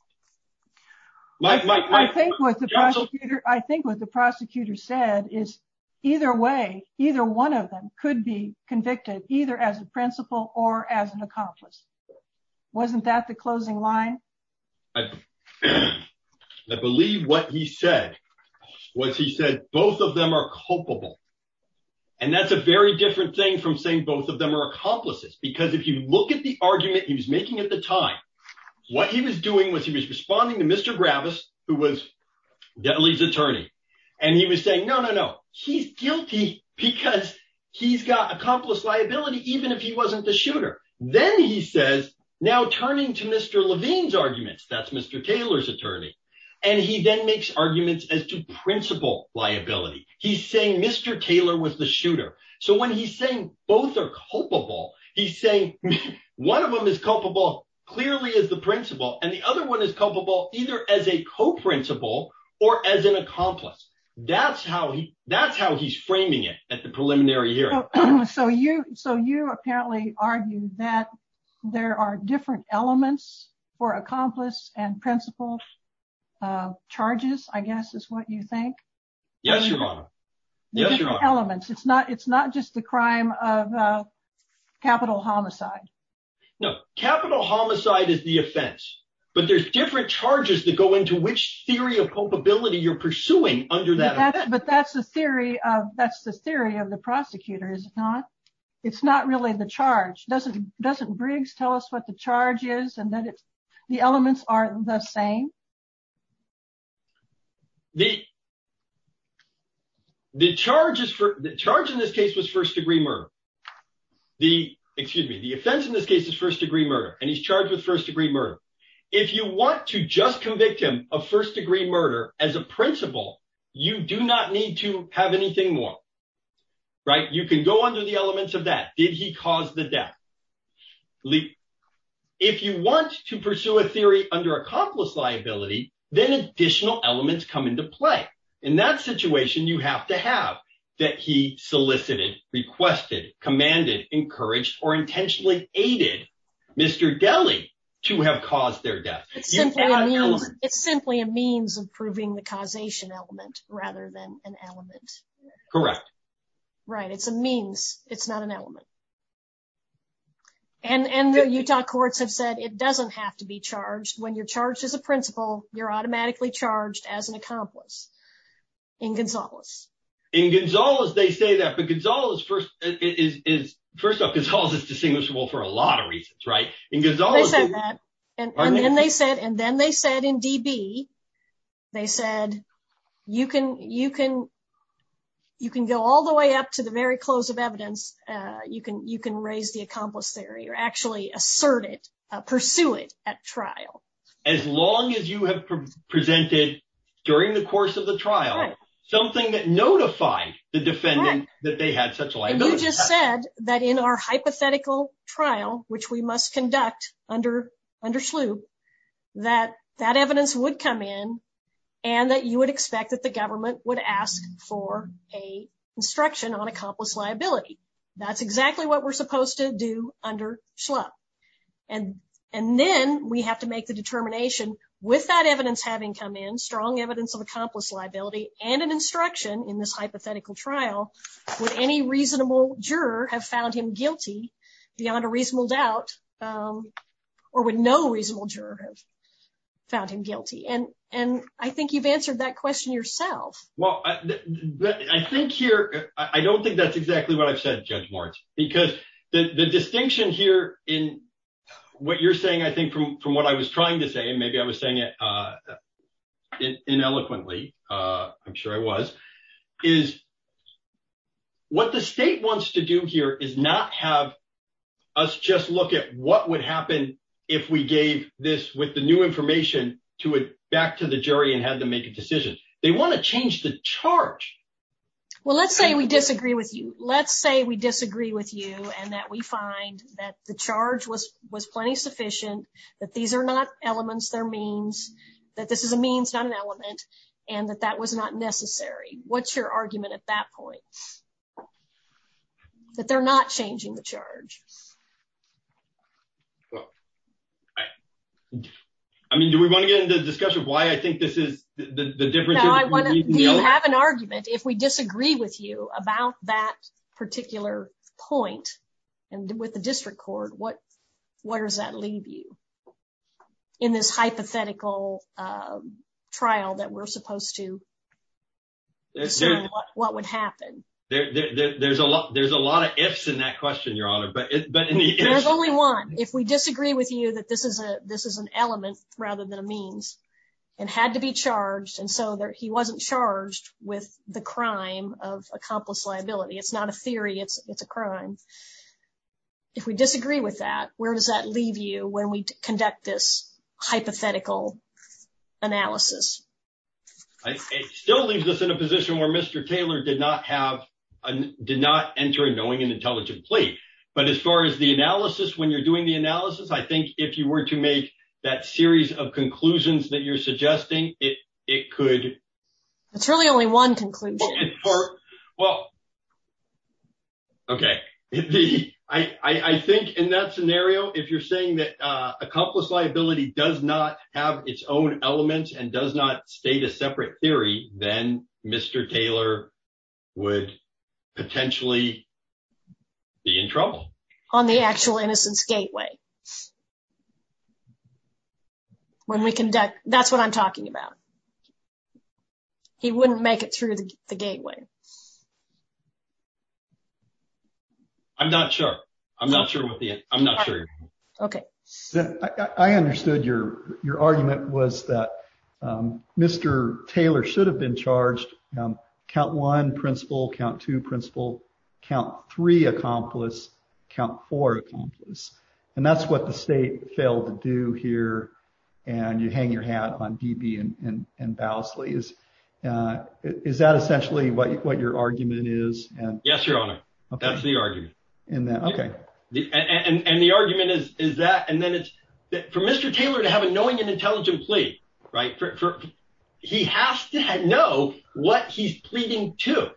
I think with the prosecutor, I think with the prosecutor said is either way, either one of them could be convicted either as a principal or as an accomplice. Wasn't that the closing line? I believe what he said was he said both of them are culpable. And that's a very different thing from saying both of them are accomplices, because if you look at the argument he was making at the time, what he was doing was he was responding to Mr. And he was saying, no, no, no, he's guilty because he's got accomplice liability, even if he wasn't the shooter. Then he says now turning to Mr. Levine's arguments, that's Mr. Taylor's attorney. And he then makes arguments as to principal liability. He's saying Mr. Taylor was the shooter. So when he's saying both are culpable, he's saying one of them is culpable clearly as the principal and the other one is culpable either as a co-principal or as an accomplice. That's how he that's how he's framing it at the preliminary hearing. So you so you apparently argue that there are different elements for accomplice and principal charges, I guess, is what you think. Yes, Your Honor. Elements it's not it's not just the crime of capital homicide. No, capital homicide is the offense, but there's different charges that go into which theory of culpability you're pursuing under that. But that's the theory of that's the theory of the prosecutor is not. It's not really the charge doesn't doesn't Briggs tell us what the charge is and that it's the elements are the same. The the charges for the charge in this case was first degree murder. The excuse me, the offense in this case is first degree murder and he's charged with first degree murder. If you want to just convict him of first degree murder as a principal, you do not need to have anything more. Right. You can go under the elements of that. Did he cause the death? If you want to pursue a theory under accomplice liability, then additional elements come into play. In that situation, you have to have that. He solicited, requested, commanded, encouraged or intentionally aided Mr. Deli to have caused their death. It's simply a means of proving the causation element rather than an element. Correct. Right. It's a means. It's not an element. And the Utah courts have said it doesn't have to be charged when you're charged as a principal, you're automatically charged as an accomplice in Gonzalez. In Gonzalez, they say that because all is first is, first of all, is distinguishable for a lot of reasons. Right. In Gonzalez, they said that. And then they said and then they said in D.B. They said you can you can you can go all the way up to the very close of evidence. You can you can raise the accomplice theory or actually assert it, pursue it at trial. As long as you have presented during the course of the trial, something that notified the defendant that they had such liability. You just said that in our hypothetical trial, which we must conduct under under Shlup, that that evidence would come in and that you would expect that the government would ask for a instruction on accomplice liability. That's exactly what we're supposed to do under Shlup. And and then we have to make the determination with that evidence, having come in strong evidence of accomplice liability and an instruction in this hypothetical trial. Would any reasonable juror have found him guilty beyond a reasonable doubt or would no reasonable juror have found him guilty? And and I think you've answered that question yourself. Well, I think here I don't think that's exactly what I've said, Judge Moritz, because the distinction here in what you're saying, I think, from from what I was trying to say, maybe I was saying it in eloquently. I'm sure I was is. What the state wants to do here is not have us just look at what would happen if we gave this with the new information to it back to the jury and had to make a decision. They want to change the charge. Well, let's say we disagree with you. Let's say we disagree with you and that we find that the charge was was plenty sufficient, that these are not elements, their means, that this is a means, not an element, and that that was not necessary. What's your argument at that point? That they're not changing the charge. Well, I mean, do we want to get into the discussion of why I think this is the difference? I want to have an argument if we disagree with you about that particular point and with the district court. What where does that leave you in this hypothetical trial that we're supposed to? What would happen? There's a lot. There's a lot of ifs in that question, Your Honor. But there's only one. If we disagree with you that this is a this is an element rather than a means and had to be charged. And so he wasn't charged with the crime of accomplice liability. It's not a theory. It's a crime. If we disagree with that, where does that leave you when we conduct this hypothetical analysis? It still leaves us in a position where Mr. Taylor did not have did not enter a knowing and intelligent plea. But as far as the analysis, when you're doing the analysis, I think if you were to make that series of conclusions that you're suggesting it, it could. It's really only one conclusion. Well. OK, I think in that scenario, if you're saying that accomplice liability does not have its own elements and does not state a separate theory, then Mr. Taylor would potentially be in trouble on the actual innocence gateway. When we conduct. That's what I'm talking about. He wouldn't make it through the gateway. I'm not sure. I'm not sure what the I'm not sure. OK, I understood your your argument was that Mr. Taylor should have been charged count one principal count to principal count three accomplice count for accomplice. And that's what the state failed to do here. And you hang your hat on BB and Bowsley. Is that essentially what your argument is? Yes, your honor. That's the argument in that. And the argument is, is that and then it's for Mr. Taylor to have a knowing and intelligent plea. Right. He has to know what he's pleading to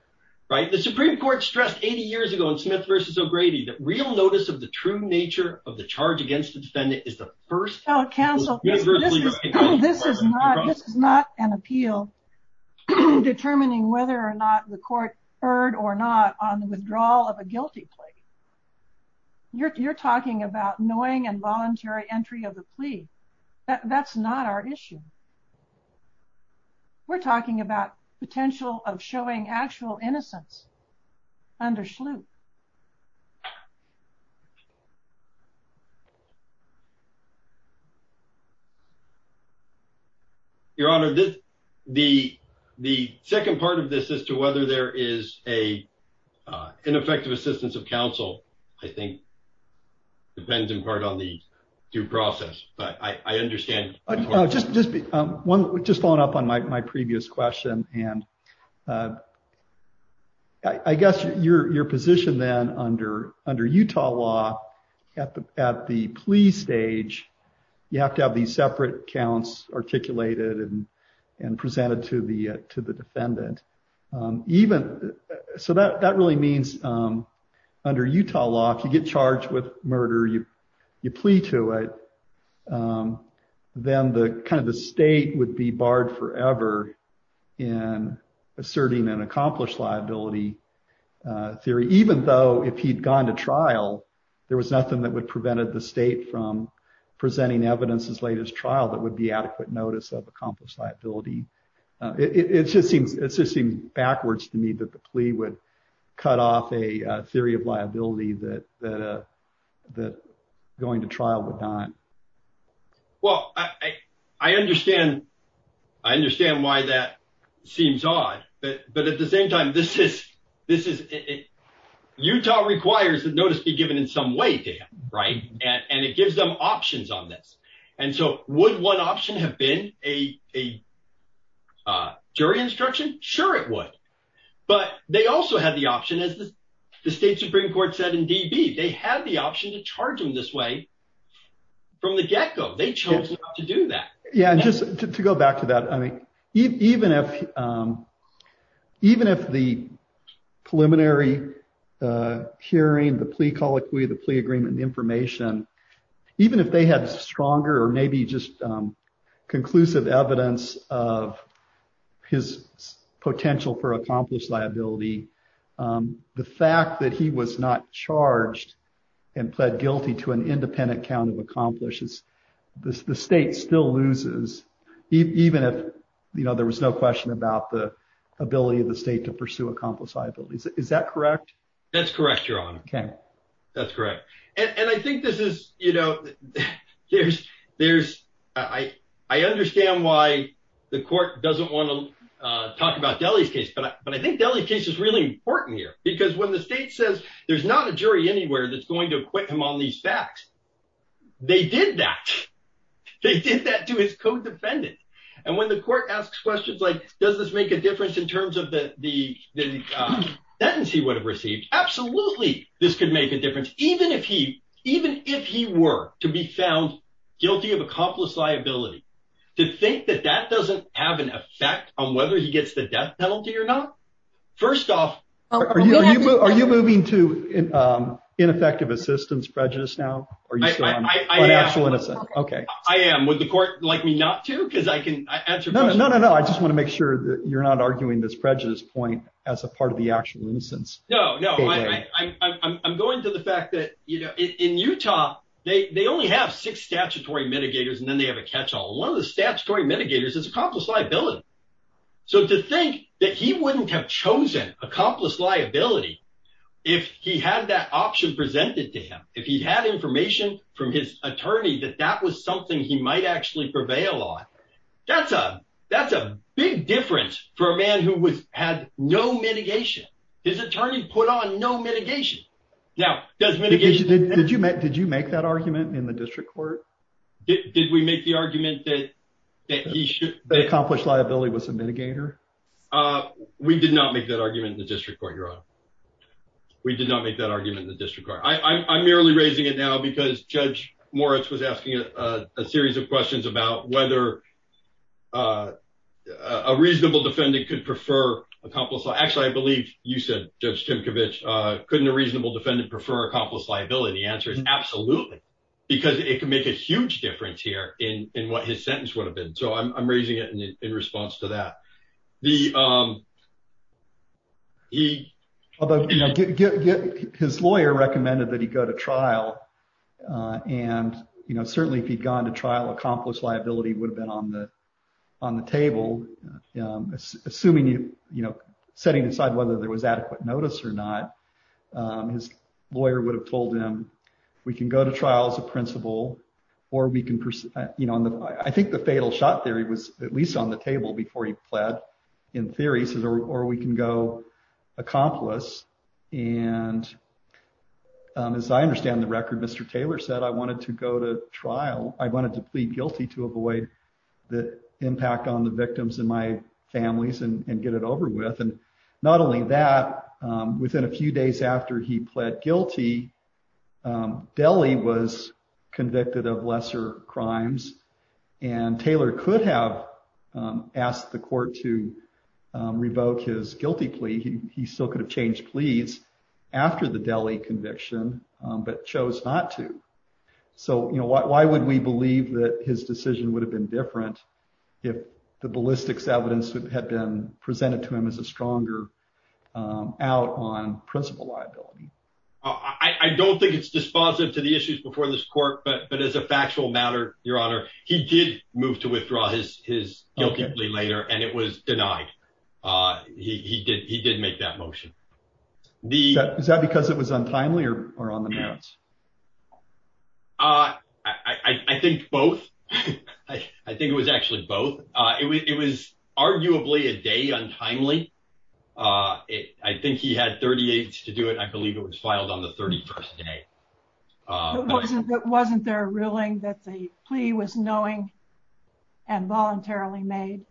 write the Supreme Court stressed 80 years ago in Smith versus O'Grady that real notice of the true nature of the charge against the defendant is the first council. This is not an appeal determining whether or not the court heard or not on the withdrawal of a guilty plea. You're talking about knowing and voluntary entry of the plea. That's not our issue. We're talking about potential of showing actual innocence under Shlute. Your honor, this the the second part of this as to whether there is a ineffective assistance of counsel, I think, depends in part on the due process, but I understand just just one just following up on my previous question. And I guess your position then under under Utah law at the at the plea stage, you have to have these separate counts articulated and and presented to the to the defendant, even so that that really means under Utah law. If you get charged with murder you you plea to it. Then the kind of the state would be barred forever in asserting an accomplished liability theory, even though if he'd gone to trial. There was nothing that would prevent the state from presenting evidence as late as trial that would be adequate notice of accomplished liability. It just seems it's just backwards to me that the plea would cut off a theory of liability that that going to trial with time. Well, I, I understand. I understand why that seems odd, but but at the same time this is this is Utah requires that notice be given in some way. Right. And it gives them options on this. And so, would one option have been a jury instruction. Sure, it would. But they also have the option is the state Supreme Court said in dB, they have the option to charge them this way. From the get go, they chose to do that. Yeah, just to go back to that. I mean, even if even if the preliminary hearing the plea colloquy the plea agreement the information, even if they had stronger or maybe just conclusive evidence of his potential for accomplished liability. The fact that he was not charged and pled guilty to an independent count of accomplishes this the state still loses, even if you know there was no question about the ability of the state to pursue accomplished liabilities. Is that correct. That's correct. You're on. Okay, that's correct. And I think this is, you know, there's, there's, I, I understand why the court doesn't want to talk about deli's case but but I think deli case is really important here, because when the state says there's not a jury anywhere that's going to quit him on these facts. They did that. They did that to his co defendant. And when the court asks questions like, does this make a difference in terms of the, the, the tendency would have received absolutely, this could make a difference, even if he even if he were to be found guilty of accomplished liability to think that that doesn't have an effect on whether he gets the death penalty or not. Are you moving to ineffective assistance prejudice now. Are you still innocent. Okay, I am with the court, like me not to because I can answer. No, no, no, no, I just want to make sure that you're not arguing this prejudice point as a part of the actual instance. No, no, I'm going to the fact that, you know, in Utah, they only have six statutory mitigators and then they have a catch all one of the statutory mitigators is accomplished liability. So to think that he wouldn't have chosen accomplished liability. If he had that option presented to him if he had information from his attorney that that was something he might actually prevail on. That's a, that's a big difference for a man who was had no mitigation his attorney put on no mitigation. Now, does mitigation. Did you make did you make that argument in the district court. Did we make the argument that that he should accomplish liability was a mitigator. We did not make that argument in the district court. We did not make that argument in the district. I'm merely raising it now because Judge Moritz was asking a series of questions about whether A reasonable defendant could prefer accomplished. Actually, I believe you said, Judge Tim Kovacs couldn't a reasonable defendant prefer accomplished liability answers. Absolutely. Because it can make a huge difference here in in what his sentence would have been. So I'm raising it and in response to that the He His lawyer recommended that he go to trial. And, you know, certainly if he'd gone to trial accomplished liability would have been on the on the table. Assuming you, you know, setting aside whether there was adequate notice or not. His lawyer would have told him, we can go to trial as a principal, or we can, you know, I think the fatal shot theory was at least on the table before he pled in theory says, or we can go accomplish and As I understand the record. Mr. Taylor said I wanted to go to trial. I wanted to plead guilty to avoid the impact on the victims in my family's and get it over with. And not only that, within a few days after he pled guilty Deli was convicted of lesser crimes and Taylor could have asked the court to revoke his guilty plea. He still could have changed, please. After the deli conviction, but chose not to. So, you know, why would we believe that his decision would have been different if the ballistics evidence that had been presented to him as a stronger out on principal liability. I don't think it's dispositive to the issues before this court, but but as a factual matter, Your Honor, he did move to withdraw his his guilty plea later and it was denied. He did. He did make that motion. Is that because it was untimely or on the merits. I think both. I think it was actually both. It was arguably a day on timely. It. I think he had 38 to do it. I believe it was filed on the 31st day. It wasn't there ruling that the plea was knowing and voluntarily made.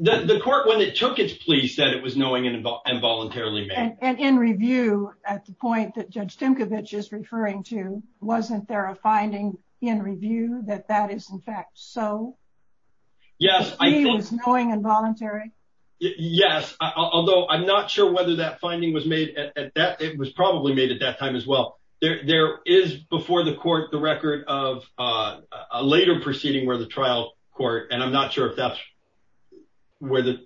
The court when it took its plea said it was knowing and involuntarily. And in review at the point that Judge Timkovich is referring to. Wasn't there a finding in review that that is, in fact, so Yes, I was going involuntary. Yes, although I'm not sure whether that finding was made at that. It was probably made at that time as well. There is before the court the record of a later proceeding where the trial court. And I'm not sure if that's where the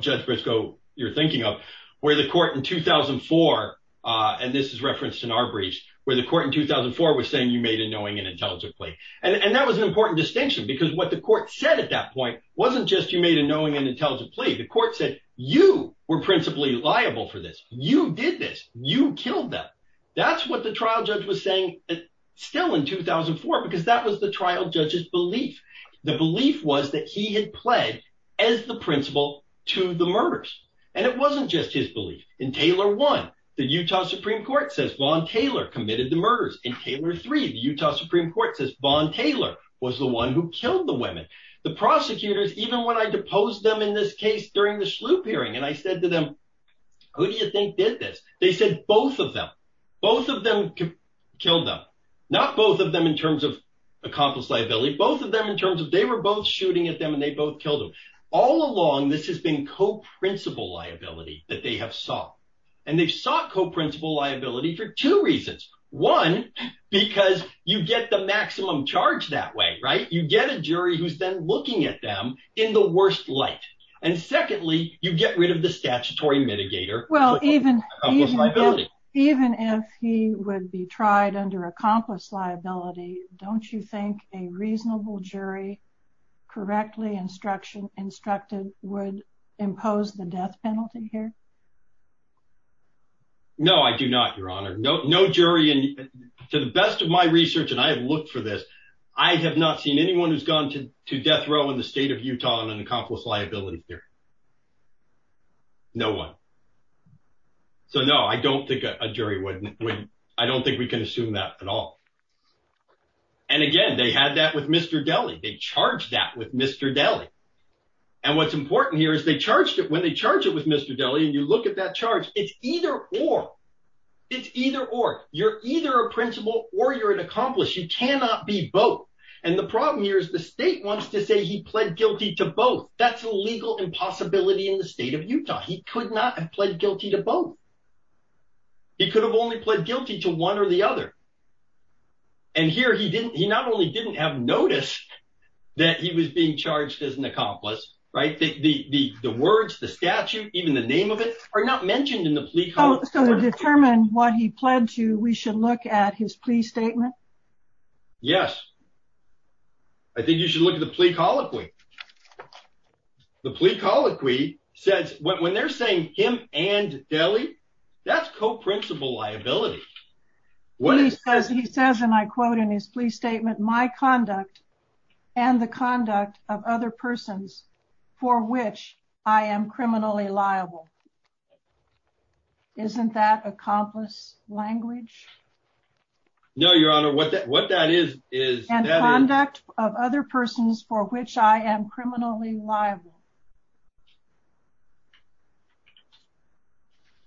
judge Briscoe you're thinking of where the court in 2004. And this is referenced in our breach where the court in 2004 was saying you made a knowing and intelligent plea. And that was an important distinction because what the court said at that point wasn't just you made a knowing and intelligent plea. The court said you were principally liable for this. You did this. You killed them. That's what the trial judge was saying. Still in 2004 because that was the trial judge's belief. The belief was that he had pled as the principal to the murders. And it wasn't just his belief in Taylor one. The Utah Supreme Court says Vaughn Taylor committed the murders in Taylor three. The Utah Supreme Court says Vaughn Taylor was the one who killed the women. The prosecutors even when I deposed them in this case during the sloop hearing and I said to them who do you think did this. They said both of them. Both of them killed them. Not both of them in terms of accomplice liability. Both of them in terms of they were both shooting at them and they both killed him all along. This has been co-principal liability that they have sought. And they've sought co-principal liability for two reasons. One, because you get the maximum charge that way. Right. You get a jury who's been looking at them in the worst light. And secondly, you get rid of the statutory mitigator. Even if he would be tried under accomplice liability. Don't you think a reasonable jury correctly instruction instructed would impose the death penalty here. No, I do not, Your Honor. No, no jury. And to the best of my research, and I have looked for this. I have not seen anyone who's gone to death row in the state of Utah on an accomplice liability here. No one. So no, I don't think a jury wouldn't. I don't think we can assume that at all. And again, they had that with Mr. Daly. They charged that with Mr. Daly. And what's important here is they charged it when they charge it with Mr. Daly and you look at that charge. It's either or. You're either a principal or you're an accomplice. You cannot be both. And the problem here is the state wants to say he pled guilty to both. That's a legal impossibility in the state of Utah. He could not have pled guilty to both. He could have only pled guilty to one or the other. And here he didn't. He not only didn't have noticed that he was being charged as an accomplice. Right. The words, the statute, even the name of it are not mentioned in the plea. So to determine what he pled to, we should look at his plea statement. Yes. I think you should look at the plea colloquy. The plea colloquy says when they're saying him and Daly, that's co-principal liability. What he says, he says, and I quote in his plea statement, my conduct and the conduct of other persons for which I am criminally liable. Isn't that accomplice language? No, Your Honor. What that what that is, is conduct of other persons for which I am criminally liable.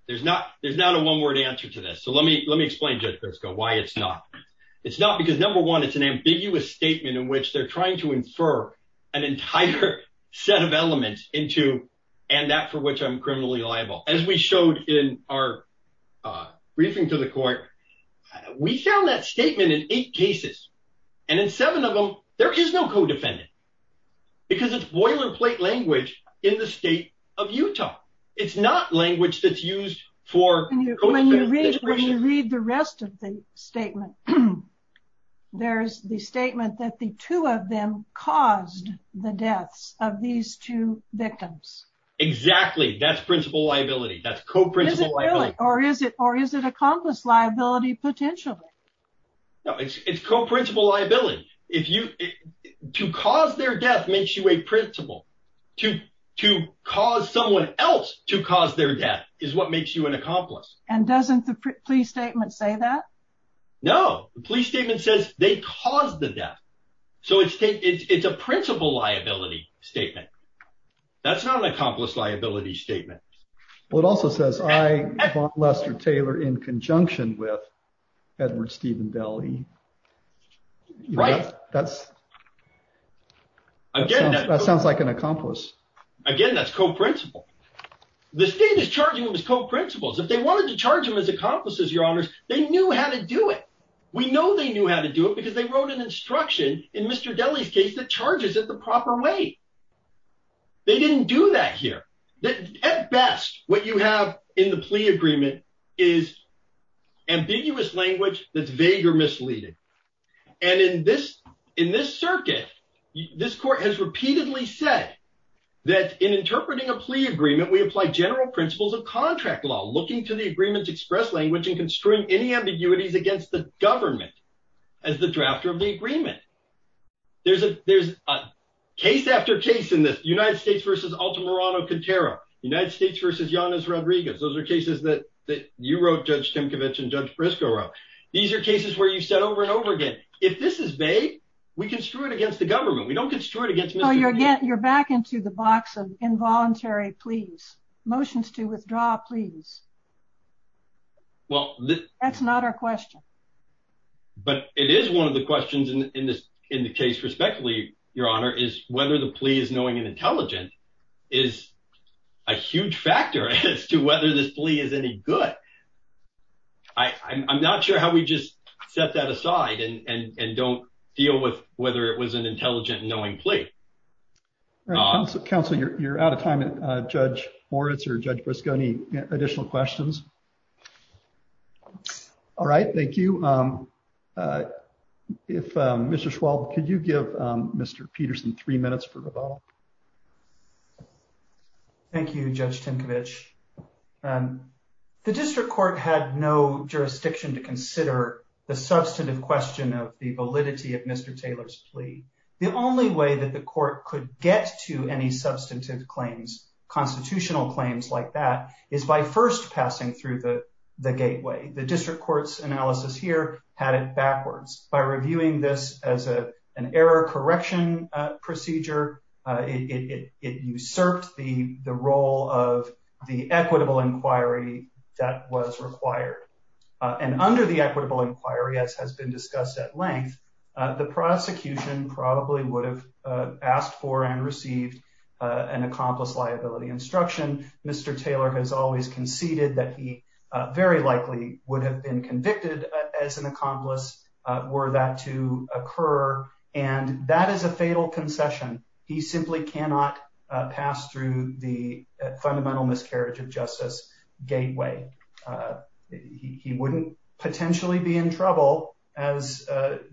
There's not there's not a one word answer to this. So let me let me explain to why it's not. It's not because, number one, it's an ambiguous statement in which they're trying to infer an entire set of elements into and that for which I'm criminally liable. As we showed in our briefing to the court, we found that statement in eight cases and in seven of them, there is no co-defendant because it's boilerplate language in the state of Utah. It's not language that's used for. When you read the rest of the statement, there's the statement that the two of them caused the deaths of these two victims. Exactly. That's principal liability. That's co-principal liability. Or is it or is it accomplice liability potentially? It's co-principal liability. If you to cause their death makes you a principal to to cause someone else to cause their death is what makes you an accomplice. And doesn't the plea statement say that? No, the plea statement says they caused the death. So it's it's a principal liability statement. That's not an accomplice liability statement. Well, it also says I, Lester Taylor, in conjunction with Edward Stephen Daly. Right. That's. Again, that sounds like an accomplice. Again, that's co-principal. The state is charging him as co-principals. If they wanted to charge him as accomplices, your honors, they knew how to do it. We know they knew how to do it because they wrote an instruction in Mr. Daly's case that charges it the proper way. They didn't do that here. At best, what you have in the plea agreement is ambiguous language that's vague or misleading. And in this in this circuit, this court has repeatedly said that in interpreting a plea agreement, we apply general principles of contract law, looking to the agreements, express language and constrain any ambiguities against the government as the drafter of the agreement. There's a there's a case after case in the United States versus Altamirano-Quintero, United States versus Yanis Rodriguez. Those are cases that that you wrote, Judge Tinkovich and Judge Briscoe wrote. These are cases where you said over and over again, if this is vague, we can screw it against the government. We don't construe it against Mr. Daly. You're back into the box of involuntary pleas, motions to withdraw pleas. Well, that's not our question. But it is one of the questions in this in the case, respectively, Your Honor, is whether the plea is knowing and intelligent is a huge factor as to whether this plea is any good. I'm not sure how we just set that aside and don't deal with whether it was an intelligent, knowing plea. Counselor, you're out of time. Judge Moritz or Judge Briscoe, any additional questions? All right. Thank you. If Mr. Schwab, could you give Mr. Peterson three minutes for rebuttal? Thank you, Judge Tinkovich. The district court had no jurisdiction to consider the substantive question of the validity of Mr. Taylor's plea. The only way that the court could get to any substantive claims, constitutional claims like that, is by first passing through the gateway. The district court's analysis here had it backwards. By reviewing this as an error correction procedure, it usurped the role of the equitable inquiry that was required. And under the equitable inquiry, as has been discussed at length, the prosecution probably would have asked for and received an accomplice liability instruction. Mr. Taylor has always conceded that he very likely would have been convicted as an accomplice were that to occur. And that is a fatal concession. He simply cannot pass through the fundamental miscarriage of justice gateway. He wouldn't potentially be in trouble. As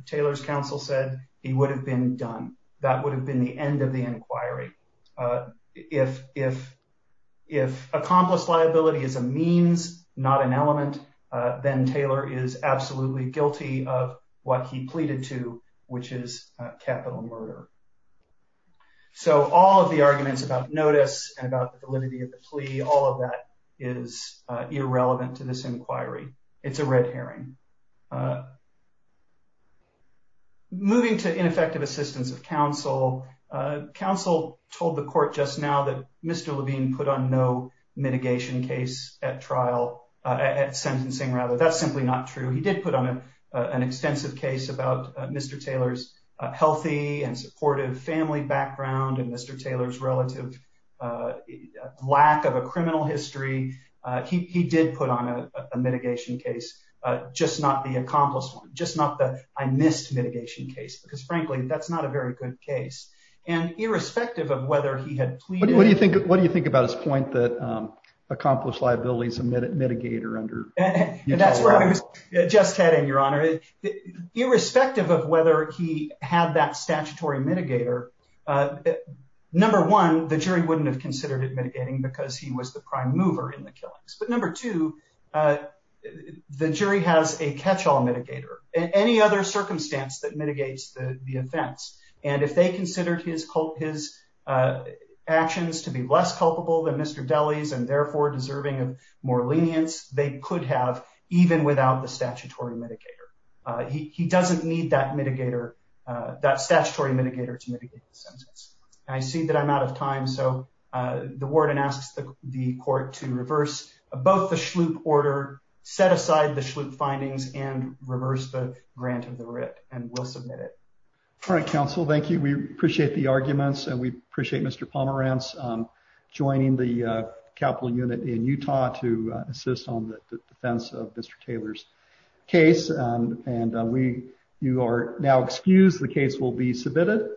Taylor's counsel said, he would have been done. That would have been the end of the inquiry. If accomplice liability is a means, not an element, then Taylor is absolutely guilty of what he pleaded to, which is capital murder. So all of the arguments about notice and about the validity of the plea, all of that is irrelevant to this inquiry. It's a red herring. Moving to ineffective assistance of counsel. Counsel told the court just now that Mr. Levine put on no mitigation case at trial, at sentencing rather. That's simply not true. He did put on an extensive case about Mr. Taylor's healthy and supportive family background and Mr. Taylor's relative lack of a criminal history. He did put on a mitigation case, just not the accomplice one, just not the I missed mitigation case, because frankly, that's not a very good case. And irrespective of whether he had. What do you think? What do you think about his point that accomplice liability is a mitigator under? And that's where I was just heading, Your Honor. Irrespective of whether he had that statutory mitigator. Number one, the jury wouldn't have considered it mitigating because he was the prime mover in the killings. But number two, the jury has a catch all mitigator and any other circumstance that mitigates the offense. And if they considered his actions to be less culpable than Mr. Daly's and therefore deserving of more lenience, they could have even without the statutory mitigator. He doesn't need that mitigator, that statutory mitigator to mitigate the sentence. I see that I'm out of time. So the warden asks the court to reverse both the Shloop order, set aside the Shloop findings and reverse the grant of the writ and will submit it. All right, counsel. Thank you. We appreciate the arguments and we appreciate Mr. Pomerantz joining the capital unit in Utah to assist on the defense of Mr. Taylor's case. And we you are now excused. The case will be submitted.